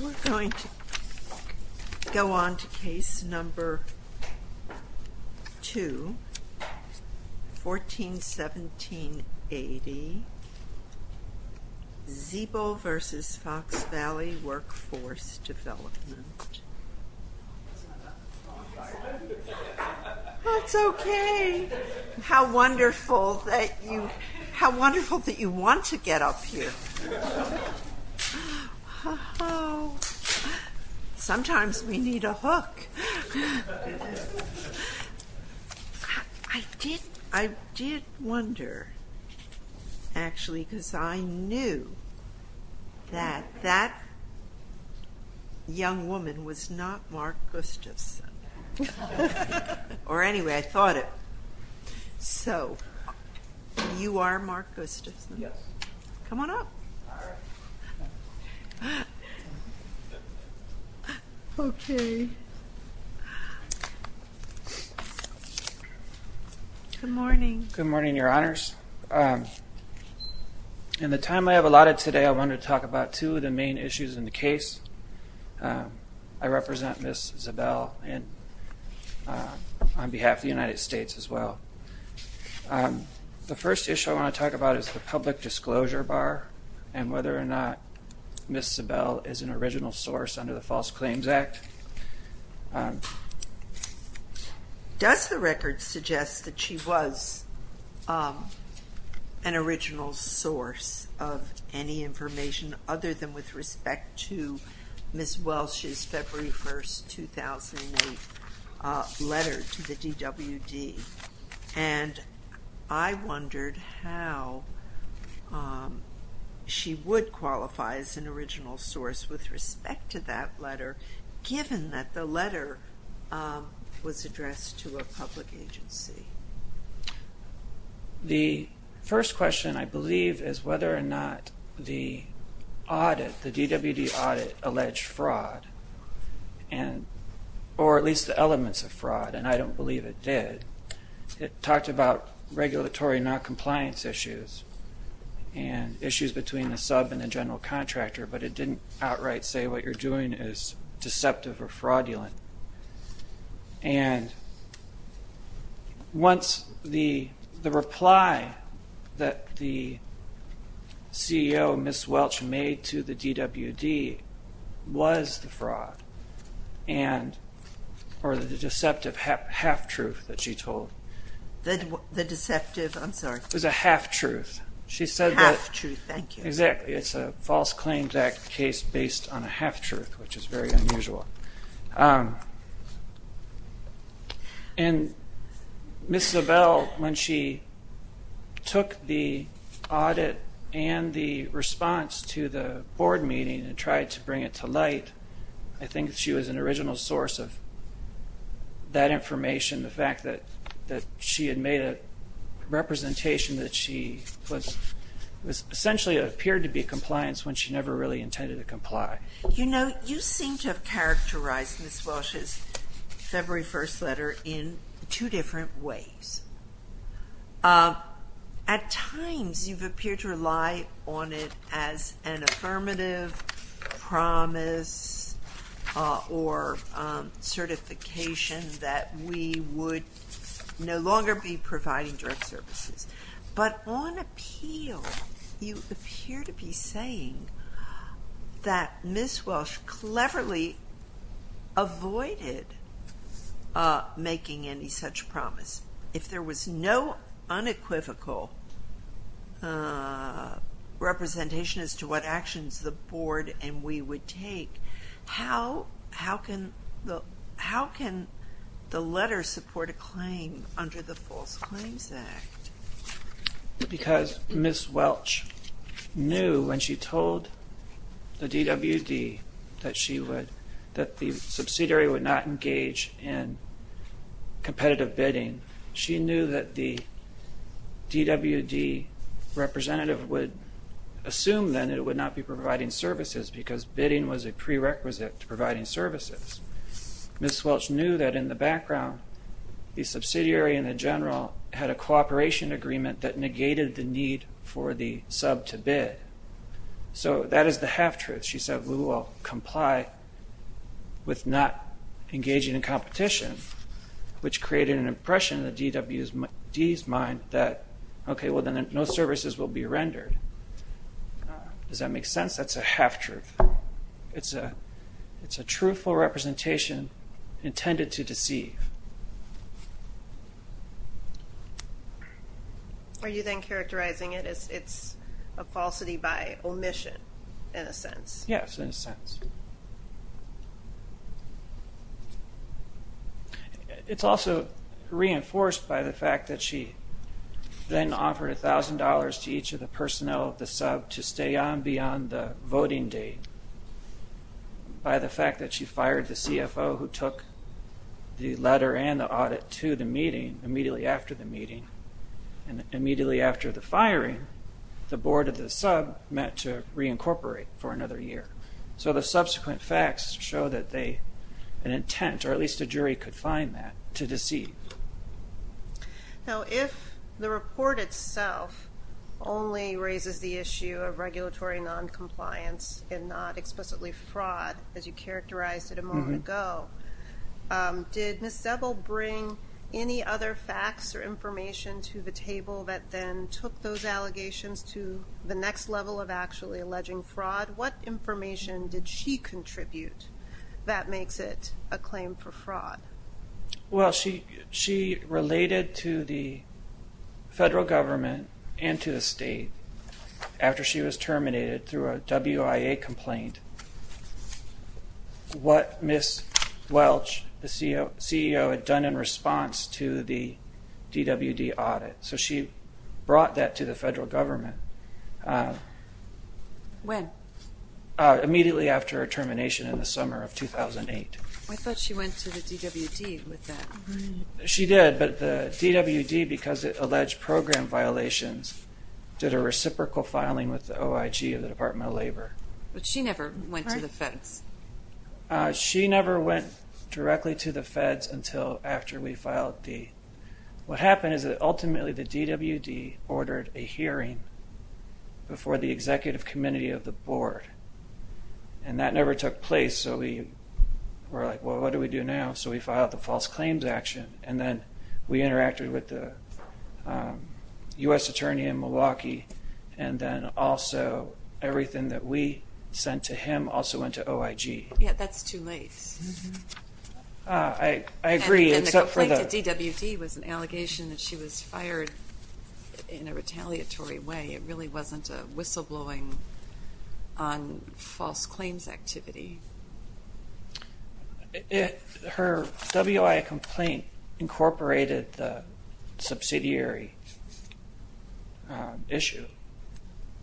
We're going to go on to case number 2, 141780. Ziebell v. Fox Valley Workforce Development. That's okay. How wonderful that you want to get up here. I did wonder, actually, because I knew that that young woman was not Mark Gustafson. Or anyway, I thought it. So, you are Mark Gustafson? Yes. Come on up. Okay. Good morning. Good morning, Your Honors. In the time I have allotted today, I want to talk about two of the main issues in the case. I represent Ms. Ziebell on behalf of the United States as well. The first issue I want to talk about is the public disclosure bar and whether or not Ms. Ziebell is an original source under the False Claims Act. Does the record suggest that she was an original source of any information other than with respect to Ms. Welsh's February 1, 2008 letter to the DWD? And I wondered how she would qualify as an original source with respect to that letter given that the letter was addressed to a public agency. The first question, I believe, is whether or not the DWD audit alleged fraud or at least the elements of fraud, and I don't believe it did. It talked about regulatory noncompliance issues and issues between the sub and the general contractor, but it didn't outright say what you're doing is deceptive or fraudulent. And once the reply that the CEO, Ms. Welsh, made to the DWD was the fraud or the deceptive half-truth that she told. The deceptive, I'm sorry. It was a half-truth. Half-truth, thank you. Exactly. It's a False Claims Act case based on a half-truth, which is very unusual. And Ms. Zabel, when she took the audit and the response to the board meeting and tried to bring it to light, I think she was an original source of that information, the fact that she had made a representation that she was essentially it appeared to be compliance when she never really intended to comply. You seem to have characterized Ms. Welsh's February 1st letter in two different ways. At times you've appeared to rely on it as an affirmative promise or certification that we would no longer be providing direct services. But on appeal, you appear to be saying that Ms. Welsh cleverly avoided making any such promise. If there was no unequivocal representation as to what actions the board and we would take, how can the letter support a claim under the False Claims Act? Because Ms. Welsh knew when she told the DWD that the subsidiary would not engage in competitive bidding, she knew that the DWD representative would assume then that it would not be providing services because bidding was a prerequisite to providing services. Ms. Welsh knew that in the background, the subsidiary and the general had a cooperation agreement that negated the need for the sub to bid. So that is the half-truth. She said we will comply with not engaging in competition, which created an impression in the DWD's mind that, okay, well, then no services will be rendered. Does that make sense? That's a half-truth. It's a truthful representation intended to deceive. Are you then characterizing it as it's a falsity by omission, in a sense? Yes, in a sense. It's also reinforced by the fact that she then offered $1,000 to each of the personnel of the sub to stay on beyond the voting date by the fact that she fired the CFO who took the letter and the audit to the meeting immediately after the meeting. And immediately after the firing, the board of the sub met to reincorporate for another year. So the subsequent facts show that an intent, or at least a jury, could find that to deceive. Now, if the report itself only raises the issue of regulatory noncompliance and not explicitly fraud, as you characterized it a moment ago, did Ms. Zebel bring any other facts or information to the table that then took those allegations to the next level of actually alleging fraud? What information did she contribute that makes it a claim for fraud? Well, she related to the federal government and to the state after she was terminated through a WIA complaint what Ms. Welch, the CEO, had done in response to the DWD audit. So she brought that to the federal government. When? Immediately after her termination in the summer of 2008. I thought she went to the DWD with that. She did, but the DWD, because of alleged program violations, did a reciprocal filing with the OIG of the Department of Labor. But she never went to the feds. She never went directly to the feds until after we filed the... What happened is that ultimately the DWD ordered a hearing before the executive committee of the board. And that never took place, so we were like, well, what do we do now? So we filed the false claims action, and then we interacted with the U.S. attorney in Milwaukee, and then also everything that we sent to him also went to OIG. Yeah, that's too late. I agree, except for the... And the complaint to DWD was an allegation that she was fired in a retaliatory way. It really wasn't a whistleblowing on false claims activity. Her WIA complaint incorporated the subsidiary issue.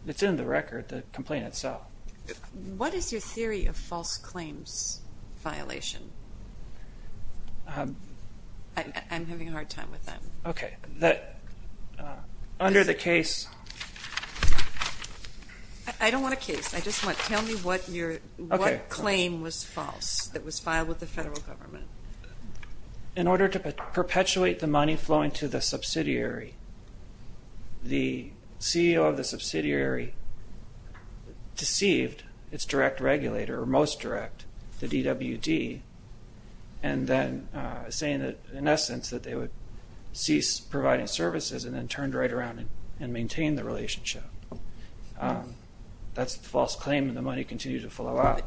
It's in the record, the complaint itself. What is your theory of false claims violation? I'm having a hard time with that. Okay, under the case... I don't want a case. I just want, tell me what claim was false that was filed with the federal government. In order to perpetuate the money flowing to the subsidiary, the CEO of the subsidiary deceived its direct regulator, or most direct, the DWD, and then saying that, in essence, that they would cease providing services and then turned right around and maintained the relationship. That's a false claim, and the money continued to flow out.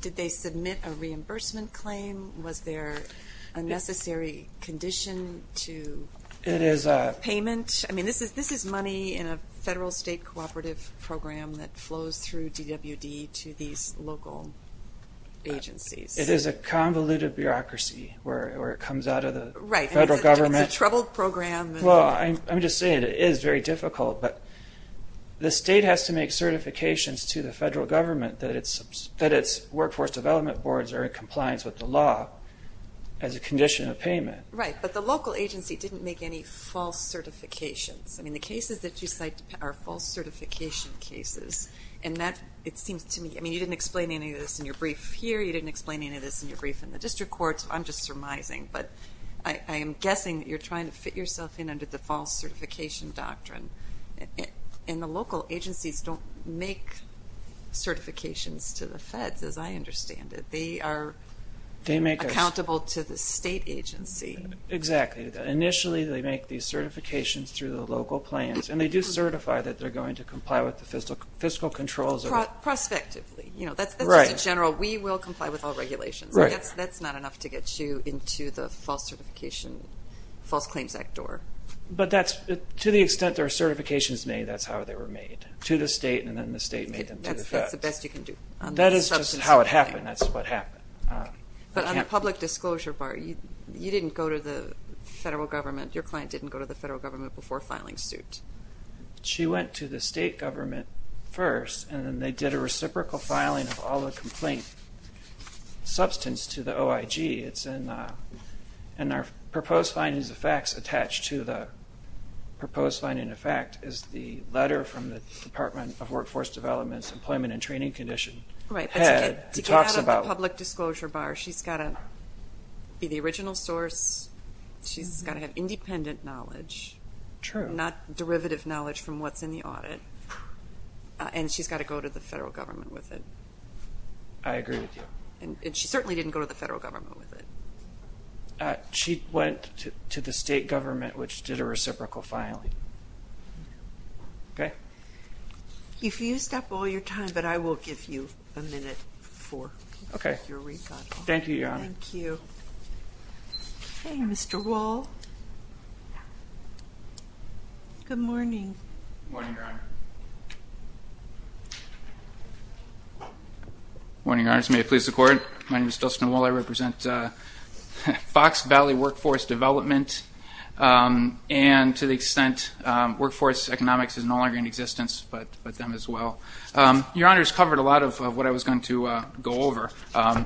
Did they submit a reimbursement claim? Was there a necessary condition to payment? I mean, this is money in a federal-state cooperative program that flows through DWD to these local agencies. It is a convoluted bureaucracy where it comes out of the federal government. Right, and it's a troubled program. Well, I'm just saying it is very difficult, but the state has to make certifications to the federal government that its workforce development boards are in compliance with the law as a condition of payment. Right, but the local agency didn't make any false certifications. I mean, the cases that you cite are false certification cases, and that, it seems to me, I mean, you didn't explain any of this in your brief here. You didn't explain any of this in your brief in the district courts. I'm just surmising, but I am guessing that you're trying to fit yourself in under the false certification doctrine. And the local agencies don't make certifications to the feds, as I understand it. They are accountable to the state agency. Exactly. Initially, they make these certifications through the local plans, and they do certify that they're going to comply with the fiscal controls of it. Prospectively. You know, that's just a general, we will comply with all regulations. That's not enough to get you into the false certification, False Claims Act door. But to the extent there are certifications made, that's how they were made, to the state, and then the state made them to the feds. That's the best you can do. That is just how it happened. That's what happened. But on the public disclosure part, you didn't go to the federal government. Your client didn't go to the federal government before filing suit. She went to the state government first, and then they did a reciprocal filing of all the complaint substance to the OIG. And our proposed findings of facts attached to the proposed finding of fact is the letter from the Department of Workforce Development's Right. To get out of the public disclosure bar, she's got to be the original source. She's got to have independent knowledge. True. Not derivative knowledge from what's in the audit. And she's got to go to the federal government with it. I agree with you. And she certainly didn't go to the federal government with it. She went to the state government, which did a reciprocal filing. Okay? If you stop all your time, but I will give you a minute for your rebuttal. Okay. Thank you, Your Honor. Thank you. Okay, Mr. Wall. Good morning. Good morning, Your Honor. Good morning, Your Honors. May it please the Court. My name is Dustin Wall. I represent Fox Valley Workforce Development. And to the extent workforce economics is no longer in existence, but them as well. Your Honor has covered a lot of what I was going to go over.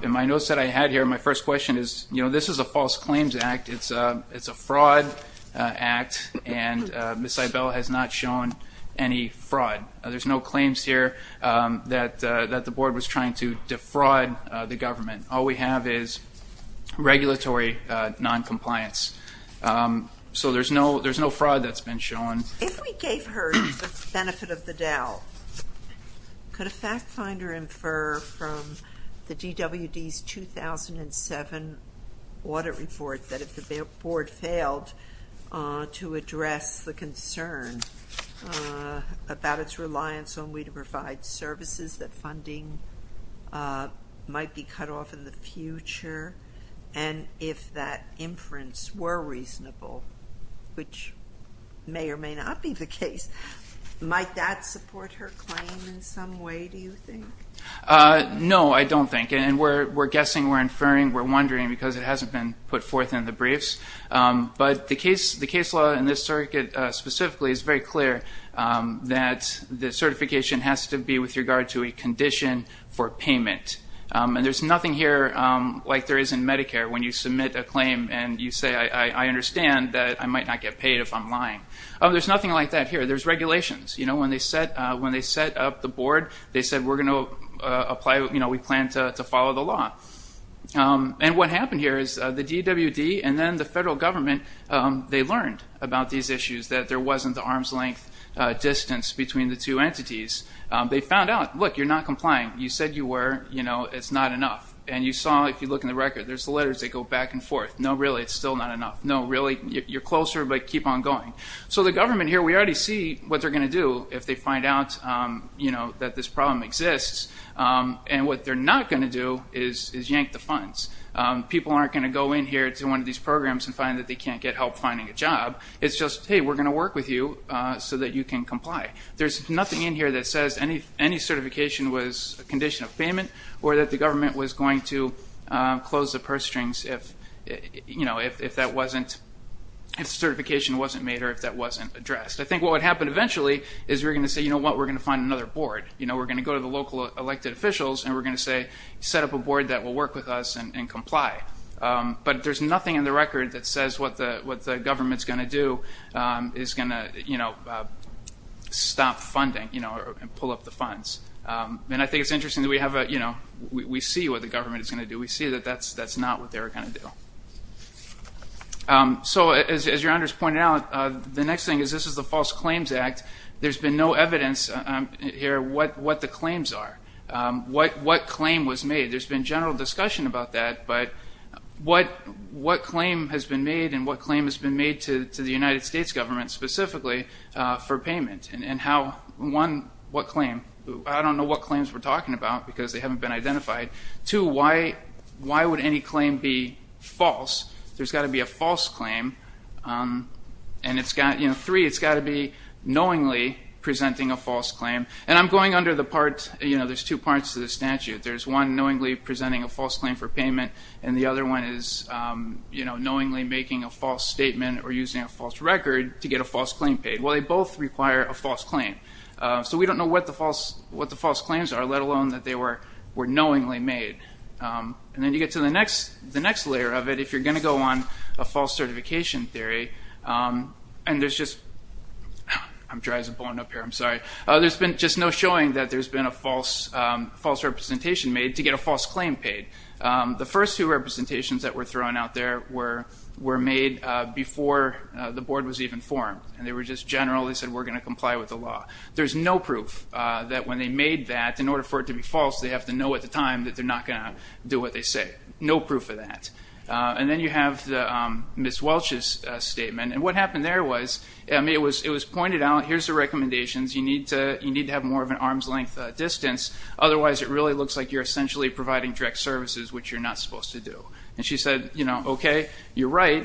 In my notes that I had here, my first question is, you know, this is a false claims act. It's a fraud act, and Ms. Eibel has not shown any fraud. There's no claims here that the board was trying to defraud the government. All we have is regulatory noncompliance. So there's no fraud that's been shown. If we gave her the benefit of the doubt, could a fact finder infer from the DWD's 2007 audit report that if the board failed to address the concern about its reliance only to provide services, that funding might be cut off in the future? And if that inference were reasonable, which may or may not be the case, might that support her claim in some way, do you think? No, I don't think. And we're guessing, we're inferring, we're wondering, because it hasn't been put forth in the briefs. But the case law in this circuit specifically is very clear that the DWD, with regard to a condition for payment, and there's nothing here like there is in Medicare when you submit a claim and you say, I understand that I might not get paid if I'm lying. There's nothing like that here. There's regulations. You know, when they set up the board, they said we're going to apply, you know, we plan to follow the law. And what happened here is the DWD and then the federal government, they learned about these issues, that there wasn't the arm's length distance between the two entities. They found out, look, you're not complying. You said you were. You know, it's not enough. And you saw, if you look in the record, there's letters that go back and forth. No, really, it's still not enough. No, really, you're closer, but keep on going. So the government here, we already see what they're going to do if they find out, you know, that this problem exists. And what they're not going to do is yank the funds. People aren't going to go in here to one of these programs and find that they can't get help finding a job. It's just, hey, we're going to work with you so that you can comply. There's nothing in here that says any certification was a condition of payment or that the government was going to close the purse strings if, you know, if the certification wasn't made or if that wasn't addressed. I think what would happen eventually is we're going to say, you know what, we're going to find another board. You know, we're going to go to the local elected officials and we're going to say set up a board that will work with us and comply. But there's nothing in the record that says what the government's going to do is going to, you know, stop funding, you know, and pull up the funds. And I think it's interesting that we have a, you know, we see what the government is going to do. We see that that's not what they're going to do. So as your honors pointed out, the next thing is this is the False Claims Act. There's been no evidence here what the claims are, what claim was made. There's been general discussion about that, but what claim has been made and what claim has been made to the United States government specifically for payment and how, one, what claim? I don't know what claims we're talking about because they haven't been identified. Two, why would any claim be false? There's got to be a false claim. And it's got, you know, three, it's got to be knowingly presenting a false claim. And I'm going under the part, you know, there's two parts to the statute. There's one knowingly presenting a false claim for payment and the other one is, you know, knowingly making a false statement or using a false record to get a false claim paid. Well, they both require a false claim. So we don't know what the false claims are, let alone that they were knowingly made. And then you get to the next layer of it, if you're going to go on a false certification theory, and there's just no showing that there's been a false representation made to get a false claim paid. The first two representations that were thrown out there were made before the board was even formed. And they were just general. They said we're going to comply with the law. There's no proof that when they made that, in order for it to be false, they have to know at the time that they're not going to do what they say. No proof of that. And then you have Ms. Welch's statement. And what happened there was, I mean, it was pointed out, here's the recommendations. You need to have more of an arm's length distance. Otherwise, it really looks like you're essentially providing direct services, which you're not supposed to do. And she said, you know, okay, you're right.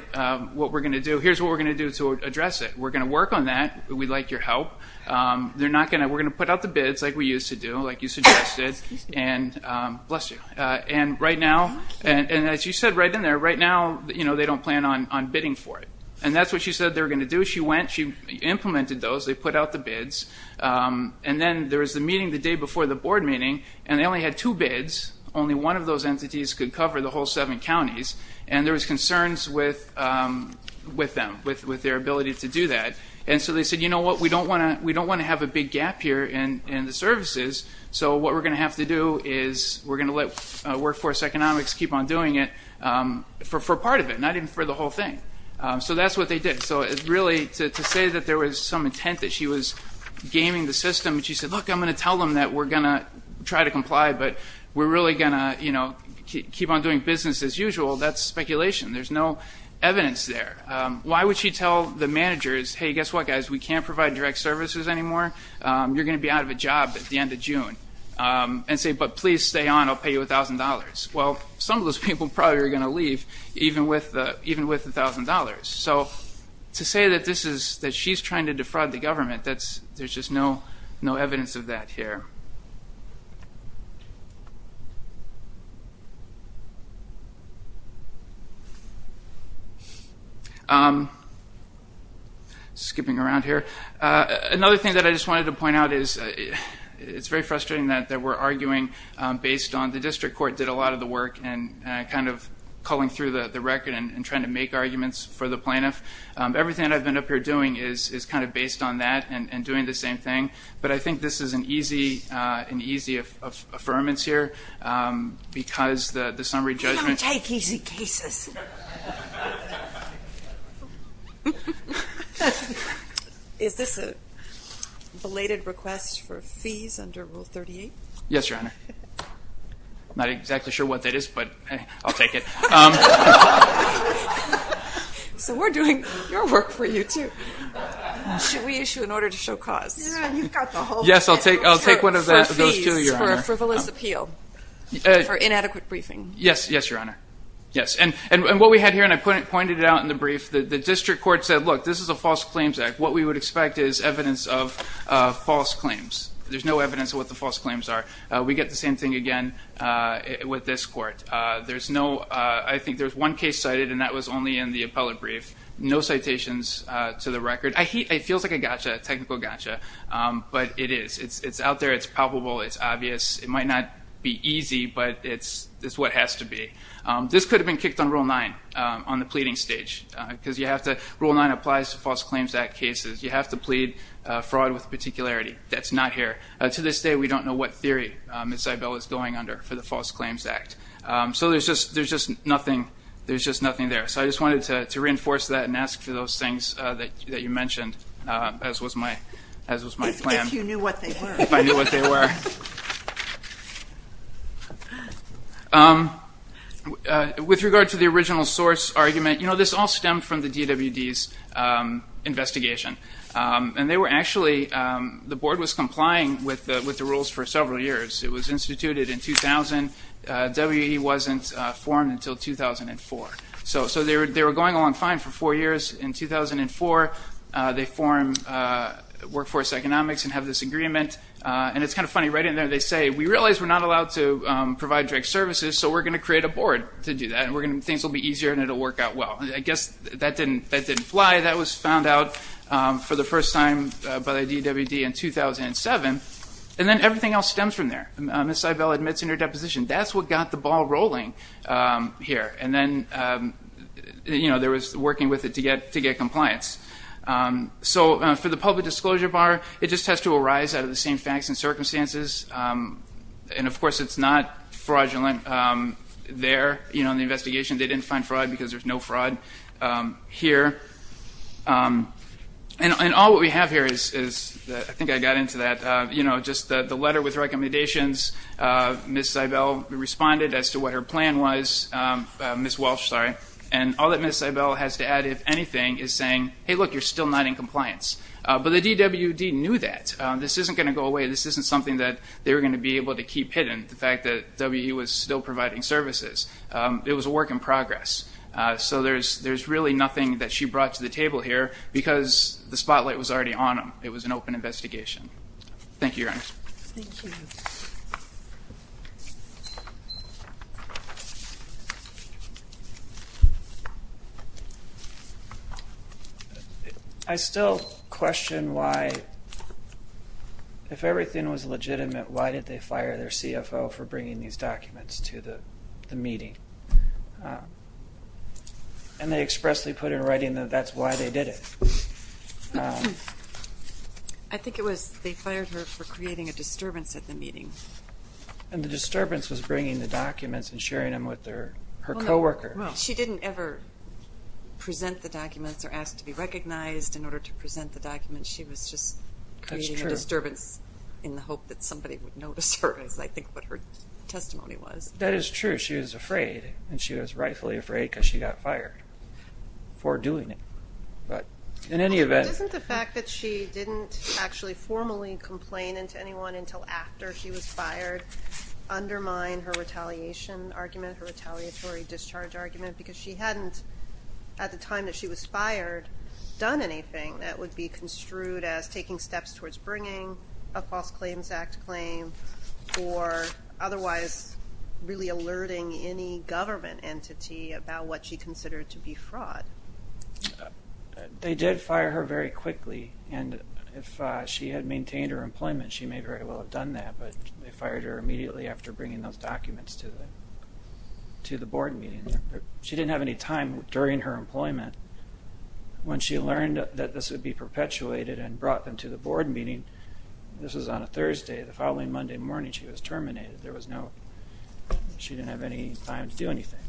What we're going to do, here's what we're going to do to address it. We're going to work on that. We'd like your help. We're going to put out the bids like we used to do, like you suggested, and bless you. And right now, and as you said right in there, right now, you know, they don't plan on bidding for it. And that's what she said they were going to do. She went. She implemented those. They put out the bids. And then there was the meeting the day before the board meeting, and they only had two bids. Only one of those entities could cover the whole seven counties. And there was concerns with them, with their ability to do that. And so they said, you know what, we don't want to have a big gap here in the services. So what we're going to have to do is we're going to let Workforce Economics keep on doing it for part of it, not even for the whole thing. So that's what they did. To say that there was some intent that she was gaming the system, she said, look, I'm going to tell them that we're going to try to comply, but we're really going to keep on doing business as usual, that's speculation. There's no evidence there. Why would she tell the managers, hey, guess what, guys, we can't provide direct services anymore. You're going to be out of a job at the end of June. And say, but please stay on. I'll pay you $1,000. Well, some of those people probably are going to leave, even with the $1,000. So to say that she's trying to defraud the government, there's just no evidence of that here. Skipping around here. Another thing that I just wanted to point out is it's very frustrating that we're arguing based on the district court did a lot of the work and kind of culling through the record and trying to make arguments for the plaintiff. Everything I've been up here doing is kind of based on that and doing the same thing. But I think this is an easy affirmance here because the summary judgment. Let me take easy cases. Is this a belated request for fees under Rule 38? Yes, Your Honor. I'm not exactly sure what that is, but I'll take it. So we're doing your work for you, too. Should we issue an order to show cause? Yes, I'll take one of those, too, Your Honor. For a frivolous appeal, for inadequate briefing. Yes, Your Honor. Yes. And what we had here, and I pointed it out in the brief, the district court said, look, this is a false claims act. What we would expect is evidence of false claims. There's no evidence of what the false claims are. We get the same thing again with this court. I think there's one case cited, and that was only in the appellate brief. No citations to the record. It feels like a gotcha, a technical gotcha, but it is. It's out there. It's palpable. It's obvious. It might not be easy, but it's what has to be. This could have been kicked on Rule 9 on the pleading stage because Rule 9 applies to false claims act cases. You have to plead fraud with particularity. That's not here. To this day, we don't know what theory Ms. Eibel is going under for the false claims act. So there's just nothing there. So I just wanted to reinforce that and ask for those things that you mentioned, as was my plan. If you knew what they were. If I knew what they were. With regard to the original source argument, you know, this all stemmed from the DWD's investigation. And they were actually, the board was complying with the rules for several years. It was instituted in 2000. WE wasn't formed until 2004. So they were going along fine for four years. In 2004, they formed Workforce Economics and have this agreement. And it's kind of funny, right in there they say, we realize we're not allowed to provide direct services, so we're going to create a board to do that. Things will be easier and it will work out well. I guess that didn't fly. That was found out for the first time by the DWD in 2007. And then everything else stems from there. Ms. Eibel admits in her deposition, that's what got the ball rolling here. And then, you know, there was working with it to get compliance. So for the public disclosure bar, it just has to arise out of the same facts and circumstances. And, of course, it's not fraudulent there, you know, in the investigation. They didn't find fraud because there's no fraud here. And all that we have here is, I think I got into that, you know, just the letter with recommendations. Ms. Eibel responded as to what her plan was, Ms. Welch, sorry. And all that Ms. Eibel has to add, if anything, is saying, hey, look, you're still not in compliance. But the DWD knew that. This isn't going to go away. This isn't something that they were going to be able to keep hidden, the fact that WE was still providing services. It was a work in progress. So there's really nothing that she brought to the table here because the spotlight was already on them. It was an open investigation. Thank you, Your Honor. Thank you. I still question why, if everything was legitimate, why did they fire their CFO for bringing these documents to the meeting? And they expressly put in writing that that's why they did it. I think it was they fired her for creating a disturbance at the meeting. And the disturbance was bringing the documents and sharing them with her co-worker. She didn't ever present the documents or ask to be recognized in order to present the documents. She was just creating a disturbance in the hope that somebody would notice her, is I think what her testimony was. That is true. She was afraid, and she was rightfully afraid because she got fired for doing it. Isn't the fact that she didn't actually formally complain to anyone until after she was fired undermine her retaliation argument, her retaliatory discharge argument because she hadn't, at the time that she was fired, done anything that would be construed as taking steps towards bringing a False Claims Act claim or otherwise really alerting any government entity about what she considered to be fraud? They did fire her very quickly. And if she had maintained her employment, she may very well have done that. But they fired her immediately after bringing those documents to the board meeting. She didn't have any time during her employment. When she learned that this would be perpetuated and brought them to the board meeting, this was on a Thursday, the following Monday morning she was terminated. There was no, she didn't have any time to do anything.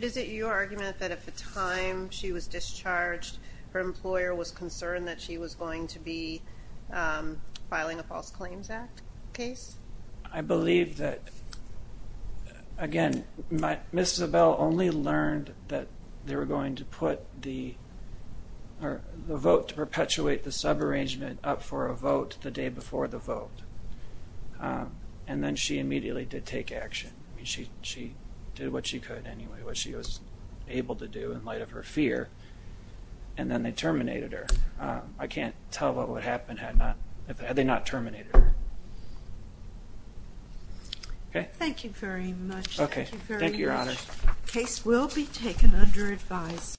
Is it your argument that at the time she was discharged, her employer was concerned that she was going to be filing a False Claims Act case? I believe that, again, Ms. Zabel only learned that they were going to put the vote to perpetuate the subarrangement up for a vote the day before the vote. And then she immediately did take action. She did what she could anyway, what she was able to do in light of her fear. And then they terminated her. I can't tell what would happen had they not terminated her. Okay. Thank you very much. Okay. Thank you, Your Honor. The case will be taken under advice.